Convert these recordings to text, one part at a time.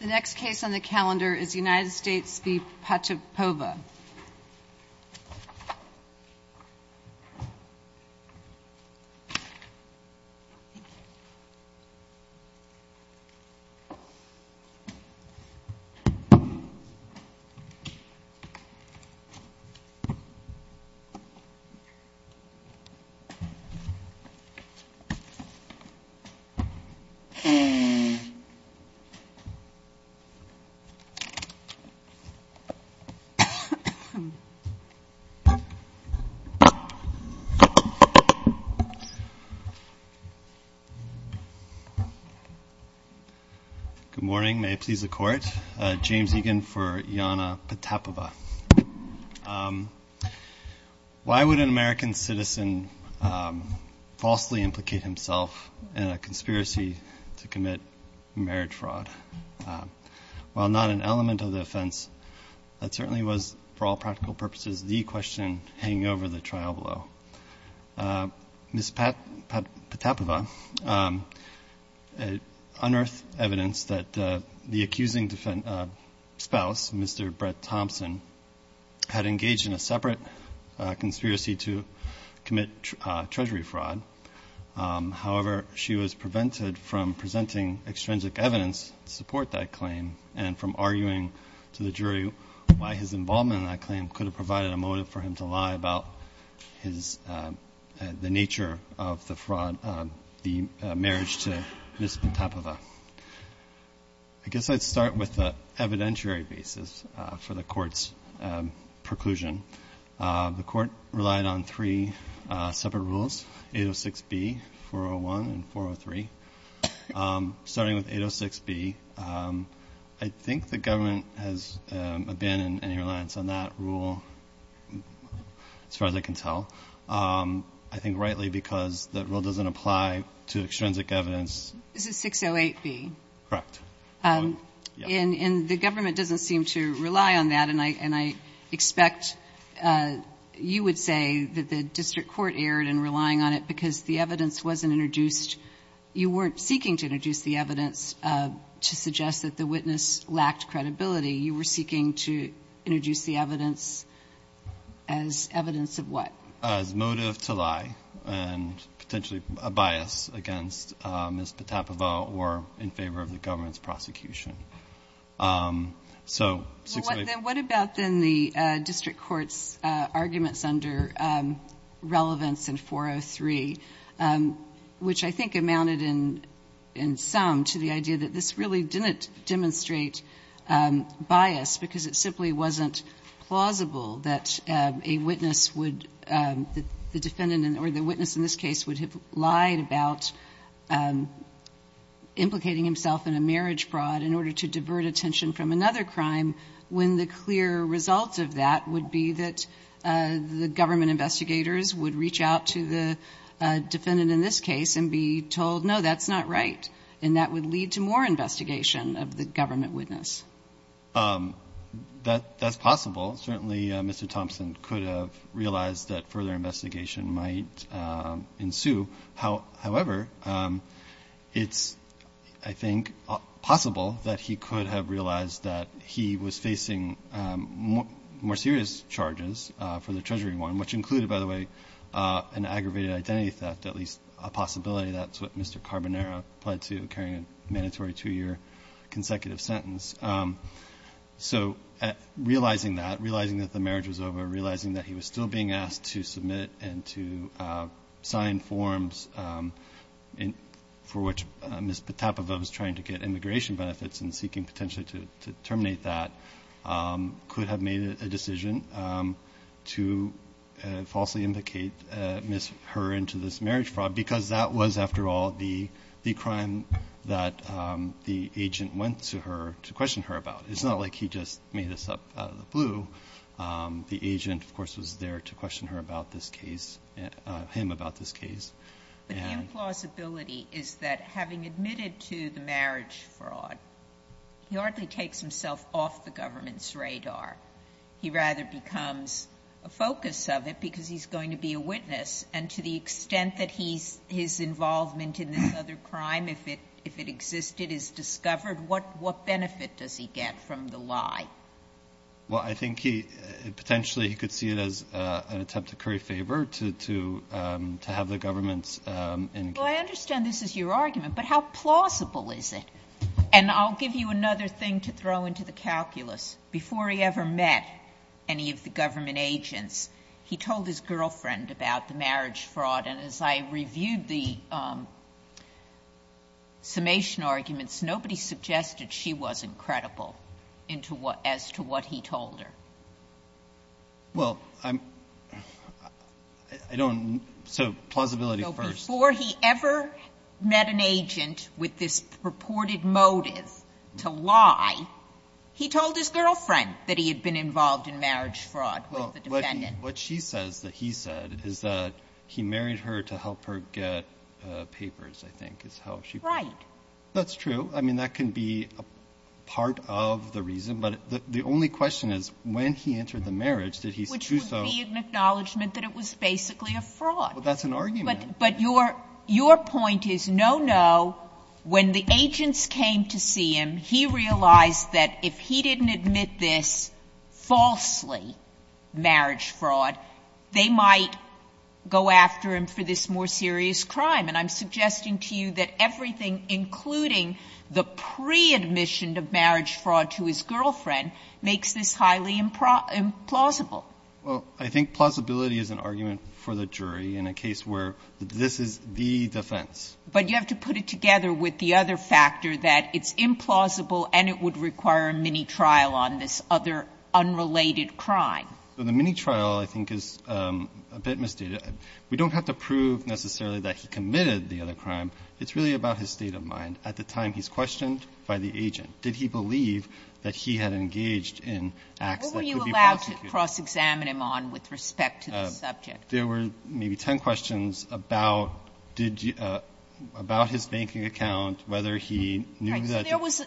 The next case on the calendar is United States v. Pachepova. Good morning. May it please the Court. James Egan for Iyanna Pachepova. Why would an American citizen falsely implicate himself in a conspiracy to commit marriage fraud? While not an element of the offense, that certainly was, for all practical purposes, the question hanging over the trial below. Ms. Pachepova unearthed evidence that the accusing spouse, Mr. Brett Thompson, had engaged in a separate conspiracy to commit Treasury fraud. However, she was prevented from presenting extrinsic evidence to support that claim and from arguing to the jury why his involvement in that claim could have provided a motive for him to lie about his – the nature of the fraud – the marriage to Ms. Pachepova. I guess I'd start with the evidentiary basis for the Court's preclusion. The Court relied on three separate rules, 806B, 401, and 403. Starting with 806B, I think the government has abandoned any reliance on that rule, as far as I can tell. I think rightly because that rule doesn't apply to extrinsic evidence. Is it 608B? Correct. And the government doesn't seem to rely on that, and I expect you would say that the district court erred in relying on it because the evidence wasn't introduced – you weren't seeking to introduce the evidence to suggest that the witness lacked credibility. You were seeking to introduce the evidence as evidence of what? As motive to lie and potentially a bias against Ms. Pachepova or in favor of the government's prosecution. So, 608B. Well, what about, then, the district court's arguments under relevance in 403, which I think amounted in sum to the plausible that a witness would – the defendant or the witness in this case would have lied about implicating himself in a marriage fraud in order to divert attention from another crime when the clear result of that would be that the government investigators would reach out to the defendant in this case and be told, no, that's not right, and that would lead to more investigation of the government witness. That's possible. Certainly, Mr. Thompson could have realized that further investigation might ensue. However, it's, I think, possible that he could have realized that he was facing more serious charges for the Treasury one, which included, by the way, an aggravated identity theft, at least a possibility that's what Mr. Carbonero pled to, carrying a mandatory two-year consecutive sentence. So, realizing that, realizing that the marriage was over, realizing that he was still being asked to submit and to sign forms for which Ms. Pachepova was trying to get immigration benefits and seeking potentially to terminate that, could have made a decision to falsely implicate Ms. Herr into this marriage fraud, because that was, after all, the crime that the agent went to her to question her about. It's not like he just made this up out of the blue. The agent, of course, was there to question her about this case, him about this case. And the implausibility is that having admitted to the marriage fraud, he hardly takes himself off the government's radar. He rather becomes a focus of it because he's going to be a witness, and to the extent that he's, his involvement in this other crime, if it, if it existed, is discovered, what, what benefit does he get from the lie? Well, I think he, potentially, he could see it as an attempt to curry favor to, to, to have the government's in- Well, I understand this is your argument, but how plausible is it? And I'll give you another thing to throw into the calculus. Before he ever met any of the government agents, he told his girlfriend about the marriage fraud, and as I reviewed the summation arguments, nobody suggested she wasn't credible into what, as to what he told her. Well, I'm, I don't, so plausibility first. So before he ever met an agent with this purported motive to lie, he told his girlfriend that he had been involved in marriage fraud with the defendant. What she says that he said is that he married her to help her get papers, I think, is how she- Right. That's true. I mean, that can be a part of the reason, but the only question is, when he entered the marriage, did he do so- Which would be an acknowledgment that it was basically a fraud. Well, that's an argument. But your, your point is, no, no, when the agents came to see him, he realized that if he didn't admit this falsely, marriage fraud, they might go after him for this more serious crime, and I'm suggesting to you that everything, including the pre-admission of marriage fraud to his girlfriend, makes this highly implausible. Well, I think plausibility is an argument for the jury in a case where this is the defense. But you have to put it together with the other factor that it's implausible and it would require a mini-trial on this other unrelated crime. The mini-trial, I think, is a bit misdated. We don't have to prove necessarily that he committed the other crime. It's really about his state of mind. At the time, he's questioned by the agent. Did he believe that he had engaged in acts that could be prosecuted? What were you allowed to cross-examine him on with respect to the subject? There were maybe ten questions about did you – about his banking account, whether he knew that-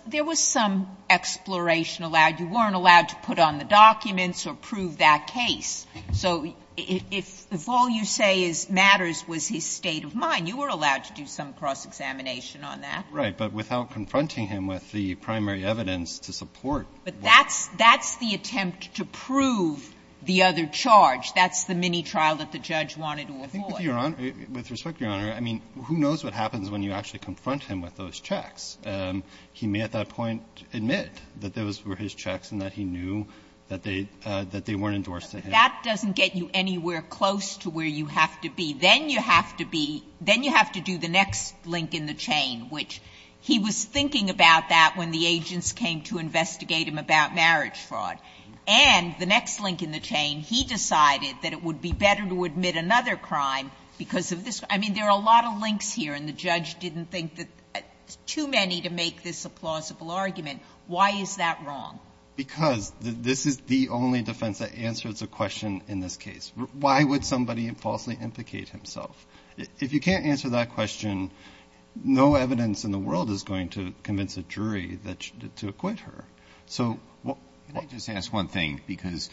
There was some exploration allowed. You weren't allowed to put on the documents or prove that case. So if all you say is matters was his state of mind, you were allowed to do some cross-examination on that. Right. But without confronting him with the primary evidence to support what- But that's the attempt to prove the other charge. That's the mini-trial that the judge wanted to avoid. I think with respect, Your Honor, I mean, who knows what happens when you actually confront him with those checks. He may at that point admit that those were his checks and that he knew that they weren't endorsed to him. But that doesn't get you anywhere close to where you have to be. Then you have to be – then you have to do the next link in the chain, which he was thinking about that when the agents came to investigate him about marriage fraud. And the next link in the chain, he decided that it would be better to admit another crime because of this. I mean, there are a lot of links here, and the judge didn't think that – too many to make this a plausible argument. Why is that wrong? Because this is the only defense that answers a question in this case. Why would somebody falsely implicate himself? If you can't answer that question, no evidence in the world is going to convince a jury that – to acquit her. So what – Can I just ask one thing? Because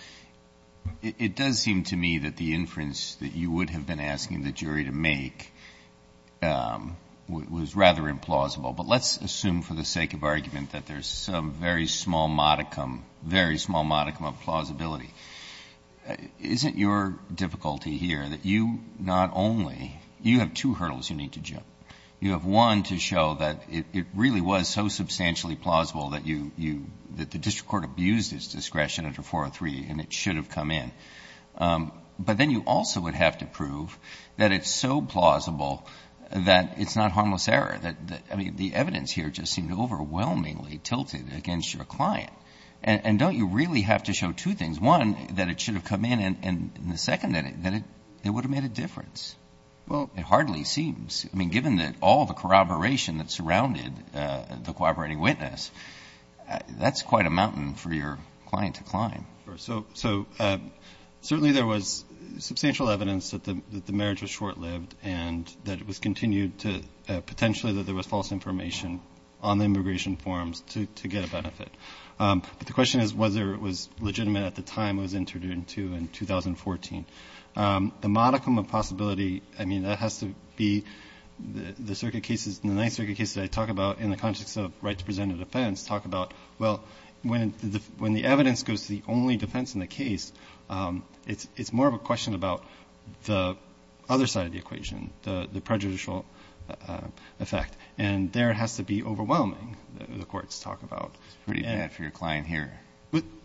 it does seem to me that the inference that you would have been asking the jury to make was rather implausible. But let's assume for the sake of argument that there's some very small modicum – very small modicum of plausibility. Isn't your difficulty here that you not only – you have two hurdles you need to jump? You have one to show that it really was so substantially plausible that you – that the district court abused its discretion under 403, and it should have come in. But then you also would have to prove that it's so plausible that it's not harmless error, that – I mean, the evidence here just seemed overwhelmingly tilted against your client. And don't you really have to show two things? One, that it should have come in, and the second, that it would have made a difference? Well, it hardly seems. I mean, given that all the corroboration that surrounded the corroborating witness, that's quite a mountain for your client to climb. So certainly there was substantial evidence that the marriage was short-lived and that it was continued to – potentially that there was false information on the immigration forms to get a benefit. But the question is whether it was legitimate at the time it was entered into in 2014. The modicum of possibility – I mean, that has to be – the circuit cases – the Ninth Circuit cases I talk about in the context of right to present a defense talk about, well, when the evidence goes to the only defense in the case, it's more of a question about the other side of the equation, the prejudicial effect. And there it has to be overwhelming, the courts talk about. It's pretty bad for your client here.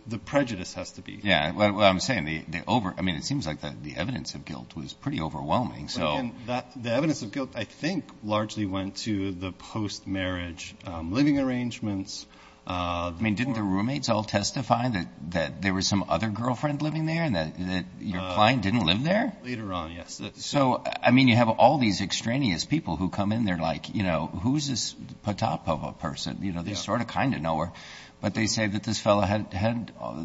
The prejudice has to be. Yeah. Well, I'm saying the – I mean, it seems like the evidence of guilt was pretty overwhelming, so – No. The evidence of guilt, I think, largely went to the post-marriage living arrangements. I mean, didn't the roommates all testify that there was some other girlfriend living there and that your client didn't live there? Later on, yes. So, I mean, you have all these extraneous people who come in there like, you know, who's this Potapova person? You know, they sort of kind of know her, but they say that this fellow had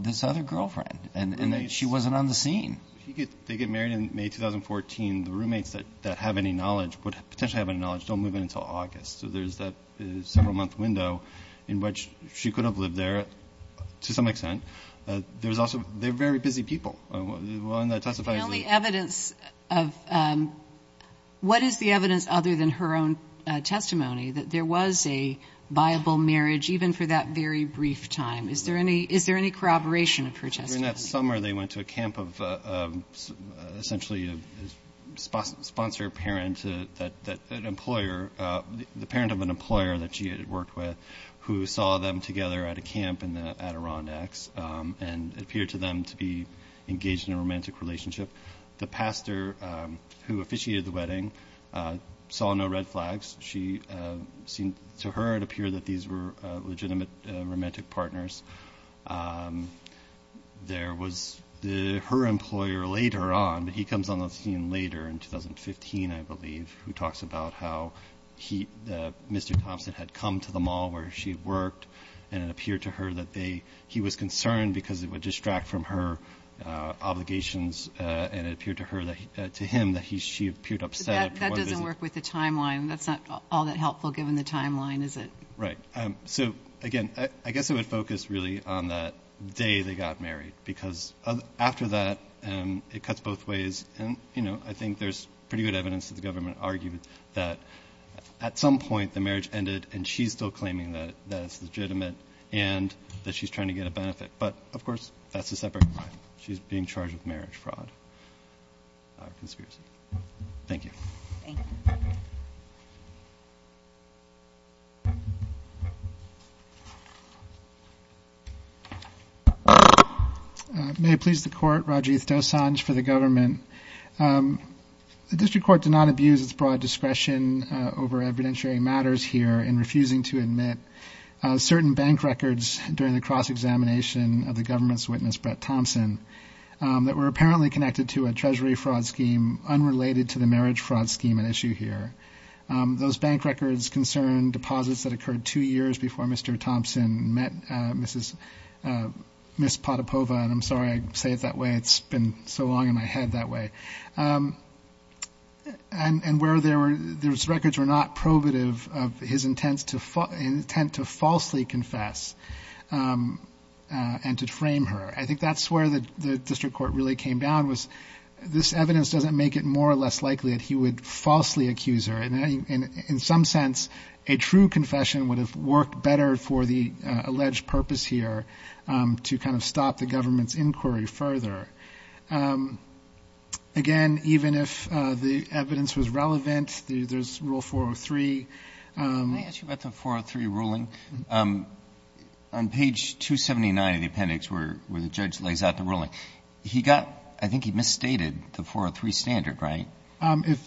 this other girlfriend and that she wasn't on the scene. If they get married in May 2014, the roommates that have any knowledge, would potentially have any knowledge, don't move in until August, so there's that several-month window in which she could have lived there to some extent. There's also – they're very busy people. The only evidence of – what is the evidence other than her own testimony that there was a viable marriage even for that very brief time? During that summer, they went to a camp of essentially a sponsor parent that an employer – the parent of an employer that she had worked with who saw them together at a camp in the Adirondacks and it appeared to them to be engaged in a romantic relationship. The pastor who officiated the wedding saw no red flags. She seemed – to her, it appeared that these were legitimate romantic partners. There was – her employer later on – he comes on the scene later in 2015, I believe, who talks about how he – Mr. Thompson had come to the mall where she had worked and it appeared to her that they – he was concerned because it would distract from her obligations and it appeared to her that – to him that he – she appeared upset. That doesn't work with the timeline. That's not all that helpful given the timeline, is it? Right. So, again, I guess it would focus really on that day they got married because after that, it cuts both ways and, you know, I think there's pretty good evidence that the government argued that at some point the marriage ended and she's still claiming that it's legitimate and that she's trying to get a benefit. But, of course, that's a separate – she's being charged with marriage fraud or conspiracy. Thank you. Thank you. May it please the Court, Rajiv Dosanjh for the government. The district court did not abuse its broad discretion over evidentiary matters here in refusing to admit certain bank records during the cross-examination of the government's treasury fraud scheme unrelated to the marriage fraud scheme at issue here. Those bank records concern deposits that occurred two years before Mr. Thompson met Mrs. – Miss Potapova and I'm sorry I say it that way. It's been so long in my head that way. And where there were – those records were not probative of his intent to falsely confess and to frame her. I think that's where the district court really came down was this evidence doesn't make it more or less likely that he would falsely accuse her and in some sense a true confession would have worked better for the alleged purpose here to kind of stop the government's inquiry further. Again, even if the evidence was relevant, there's Rule 403. Can I ask you about the 403 ruling? On page 279 of the appendix where the judge lays out the ruling, he got – I think he misstated the 403 standard, right?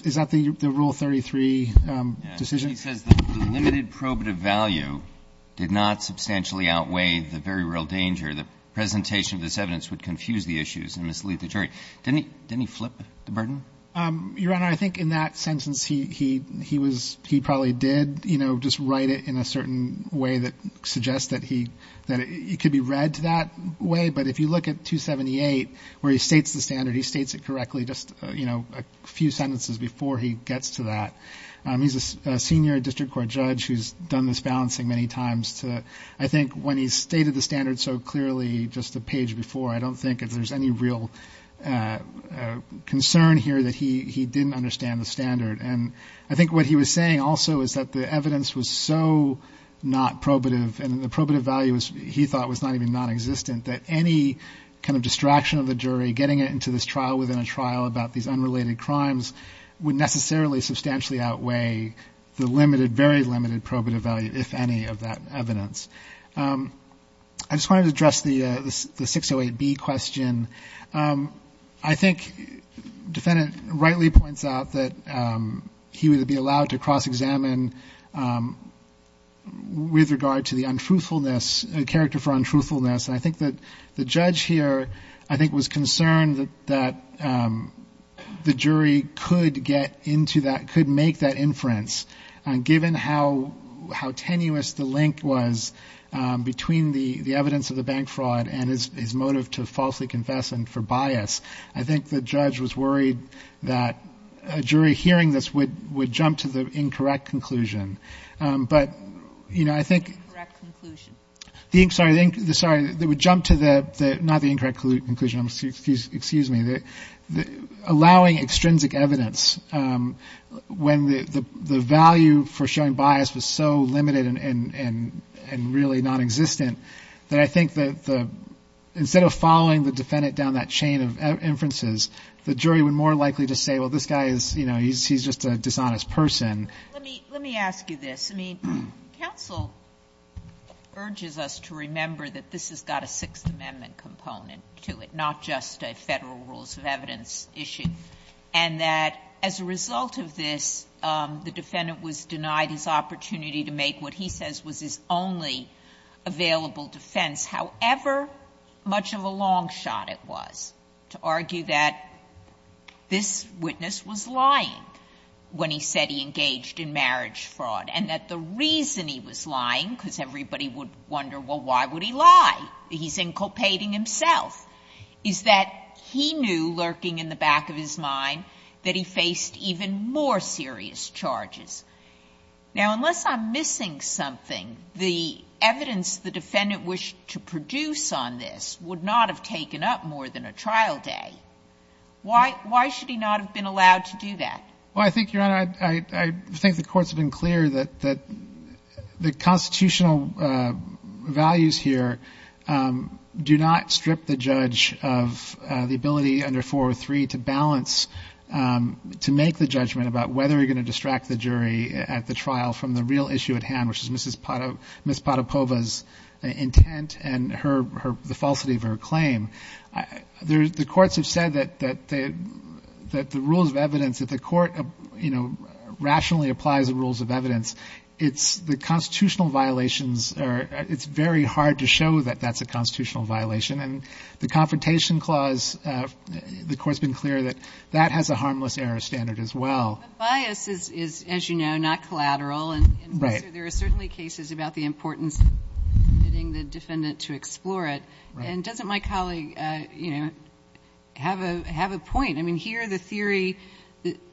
Is that the Rule 33 decision? He says the limited probative value did not substantially outweigh the very real danger. The presentation of this evidence would confuse the issues and mislead the jury. Didn't he flip the burden? Your Honor, I think in that sentence he probably did just write it in a certain way that suggests that it could be read that way. But if you look at 278 where he states the standard, he states it correctly just a few sentences before he gets to that. He's a senior district court judge who's done this balancing many times. I think when he stated the standard so clearly just a page before, I don't think there's any real concern here that he didn't understand the standard. And I think what he was saying also is that the evidence was so not probative and the probative value, he thought, was not even nonexistent that any kind of distraction of the jury getting it into this trial within a trial about these unrelated crimes would necessarily substantially outweigh the limited, very limited probative value, if any, of that evidence. I just wanted to address the 608B question. I think the defendant rightly points out that he would be allowed to cross-examine with regard to the untruthfulness, character for untruthfulness. And I think that the judge here, I think, was concerned that the jury could get into that, could make that inference. Given how tenuous the link was between the evidence of the bank fraud and his motive to falsely confess and for bias, I think the judge was worried that a jury hearing this would jump to the incorrect conclusion. But, you know, I think... Incorrect conclusion. Sorry, they would jump to the, not the incorrect conclusion, excuse me, allowing extrinsic evidence when the value for showing bias was so limited and really nonexistent that I think that instead of following the defendant down that chain of inferences, the jury would more likely just say, well, this guy is, you know, he's just a dishonest person. Let me ask you this. I mean, counsel urges us to remember that this has got a Sixth Amendment component to it, not just a Federal Rules of Evidence issue. And that as a result of this, the defendant was denied his opportunity to make what he says was his only available defense, however much of a long shot it was, to argue that this witness was lying when he said he engaged in marriage fraud and that the reason he was lying, because everybody would wonder, well, why would he lie? He's inculpating himself, is that he knew lurking in the back of his mind that he faced even more serious charges. Now, unless I'm missing something, the evidence the defendant wished to produce on this would not have taken up more than a trial day. Why should he not have been allowed to do that? Well, I think, Your Honor, I think the Court's been clear that the constitutional values here do not strip the judge of the ability under 403 to balance, to make the judgment about whether you're going to distract the jury at the trial from the real issue at hand, which is Ms. Podopova's intent and the falsity of her claim. The courts have said that the rules of evidence, if the court, you know, rationally applies the rules of evidence, it's the constitutional violations, it's very hard to show that that's a constitutional violation. And the Confrontation Clause, the Court's been clear that that has a harmless error standard as well. But bias is, as you know, not collateral, and there are certainly cases about the importance of getting the defendant to explore it. And doesn't my colleague, you know, have a point? I mean, here the theory,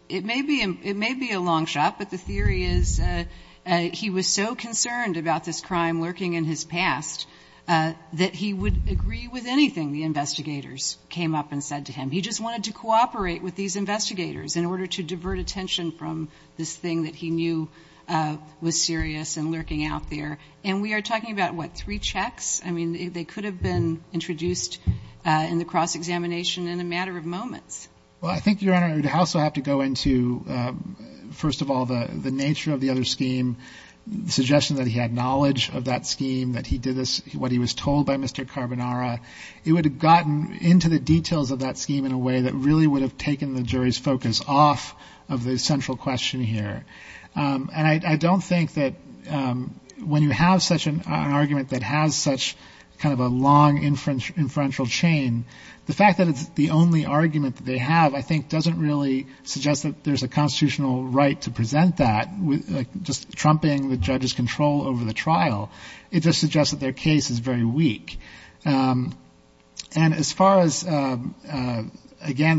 it may be a long shot, but the theory is he was so concerned about this crime lurking in his past that he would agree with anything the investigators came up and said to him. He just wanted to cooperate with these investigators in order to divert attention from this thing that he knew was serious and lurking out there. And we are talking about, what, three checks? I mean, they could have been introduced in the cross-examination in a matter of moments. Well, I think, Your Honor, we'd also have to go into, first of all, the nature of the other scheme, the suggestion that he had knowledge of that scheme, that he did this, what he was told by Mr. Carbonara. It would have gotten into the details of that scheme in a way that really would have taken the jury's focus off of the central question here. And I don't think that when you have such an argument that has such kind of a long inferential chain, the fact that it's the only argument that they have, I think, doesn't really suggest that there's a constitutional right to present that, just trumping the judge's control over the trial. It just suggests that their case is very weak. And as far as, again,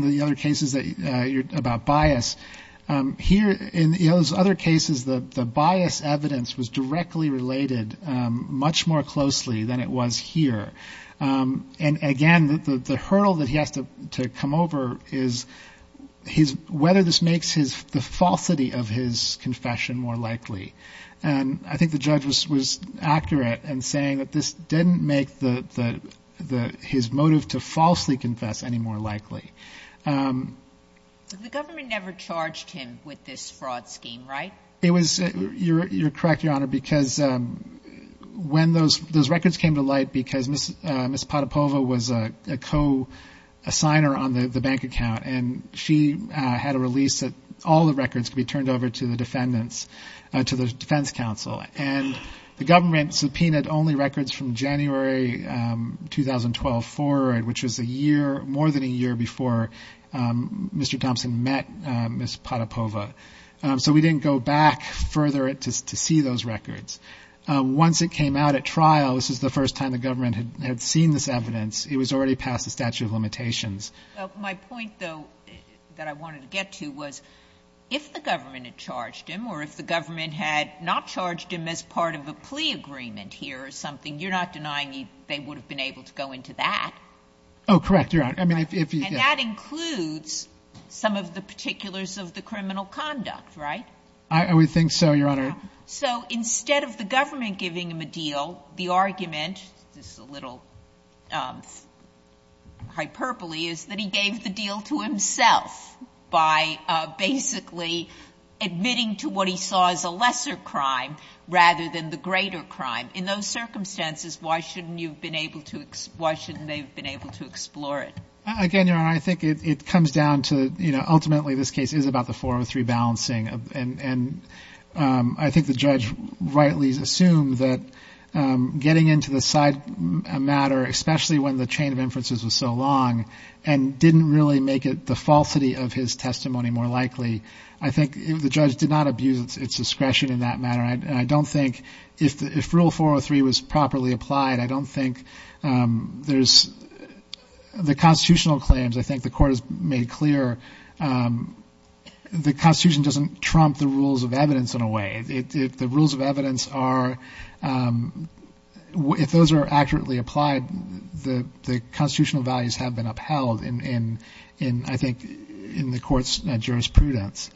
the other cases about bias, here, in those other cases, the bias evidence was directly related much more closely than it was here. And, again, the hurdle that he has to come over is whether this makes the falsity of his confession more likely. And I think the judge was accurate in saying that this didn't make his motive to falsely confess any more likely. The government never charged him with this fraud scheme, right? You're correct, Your Honor, because when those records came to light, because Ms. Potapova was a co-assigner on the bank account, and she had a release that all the records could be turned over to the defendants, to the defense counsel, and the government subpoenaed only records from January 2012 forward, which was a year, more than a year before Mr. Thompson met Ms. Potapova. So we didn't go back further to see those records. Once it came out at trial, this was the first time the government had seen this evidence, it was already past the statute of limitations. My point, though, that I wanted to get to was, if the government had charged him or if the government had not charged him as part of a plea agreement here or something, you're not denying they would have been able to go into that? Oh, correct, Your Honor. And that includes some of the particulars of the criminal conduct, right? I would think so, Your Honor. So instead of the government giving him a deal, the argument, this is a little hyperbole, is that he gave the deal to himself by basically admitting to what he saw as a lesser crime rather than the greater crime. In those circumstances, why shouldn't they have been able to explore it? Again, Your Honor, I think it comes down to ultimately this case is about the 403 balancing, and I think the judge rightly assumed that getting into the side matter, especially when the chain of inferences was so long, and didn't really make it the falsity of his testimony more likely, I think the judge did not abuse its discretion in that matter. And I don't think if Rule 403 was properly applied, I don't think there's the constitutional claims. I think the Court has made clear the Constitution doesn't trump the rules of evidence in a way. The rules of evidence are, if those are accurately applied, the constitutional values have been upheld in, I think, in the Court's jurisprudence.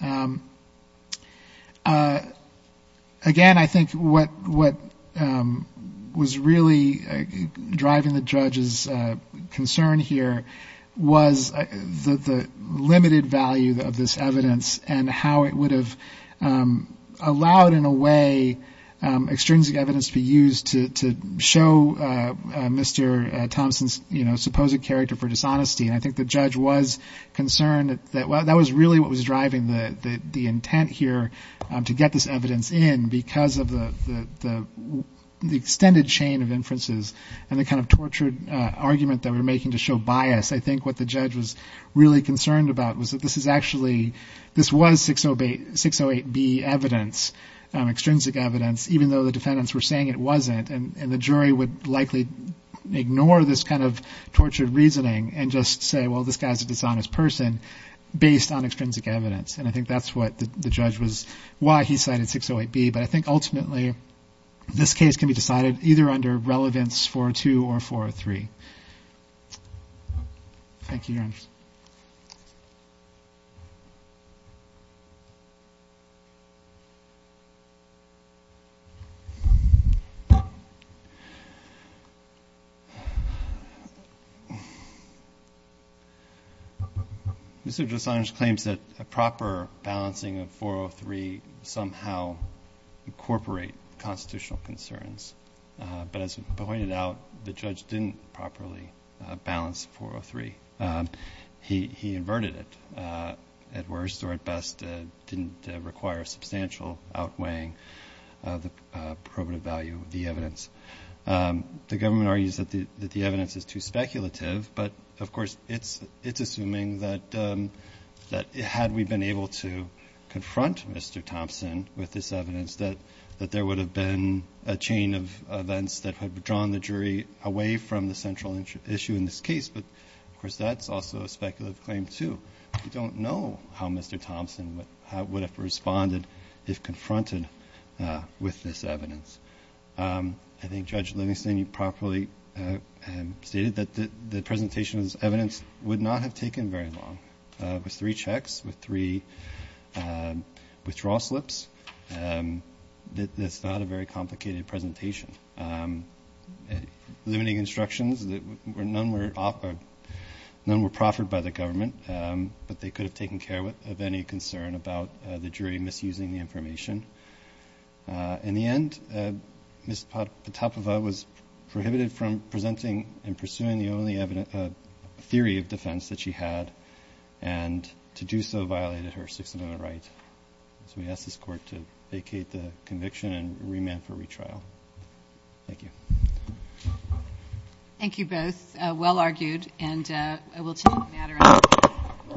Again, I think what was really driving the judge's concern here was the limited value of this evidence and how it would have allowed in a way extrinsic evidence to be used to show Mr. Thompson's supposed character for dishonesty. And I think the judge was concerned that that was really what was driving the intent here to get this evidence in because of the extended chain of inferences and the kind of tortured argument that we're making to show bias. I think what the judge was really concerned about was that this is actually, this was 608B evidence. This is extrinsic evidence, even though the defendants were saying it wasn't. And the jury would likely ignore this kind of tortured reasoning and just say, well, this guy's a dishonest person based on extrinsic evidence. And I think that's what the judge was, why he cited 608B. But I think ultimately this case can be decided either under relevance 402 or 403. Mr. Dressage claims that a proper balancing of 403 somehow incorporate constitutional concerns. But as pointed out, the judge didn't properly balance 403. He inverted it at worst or at best, didn't require substantial outweighing of the probative value of the evidence. The government argues that the evidence is too speculative, but of course it's assuming that had we been able to confront Mr. Thompson with this evidence, that there would have been a chain of events that would have drawn the jury away from the central issue in this case. But of course that's also a speculative claim too. We don't know how Mr. Thompson would have responded if confronted with this evidence. I think Judge Livingston, you properly stated that the presentation's evidence would not have taken very long. It was three checks with three withdrawal slips. That's not a very complicated presentation. Limiting instructions, none were proffered by the government, but they could have taken care of any concern about the jury misusing the information. In the end, Ms. Potapova was prohibited from presenting and pursuing the only theory of defense that she had, and to do so violated her 608 right. So we ask this court to vacate the conviction and remand for retrial. Thank you.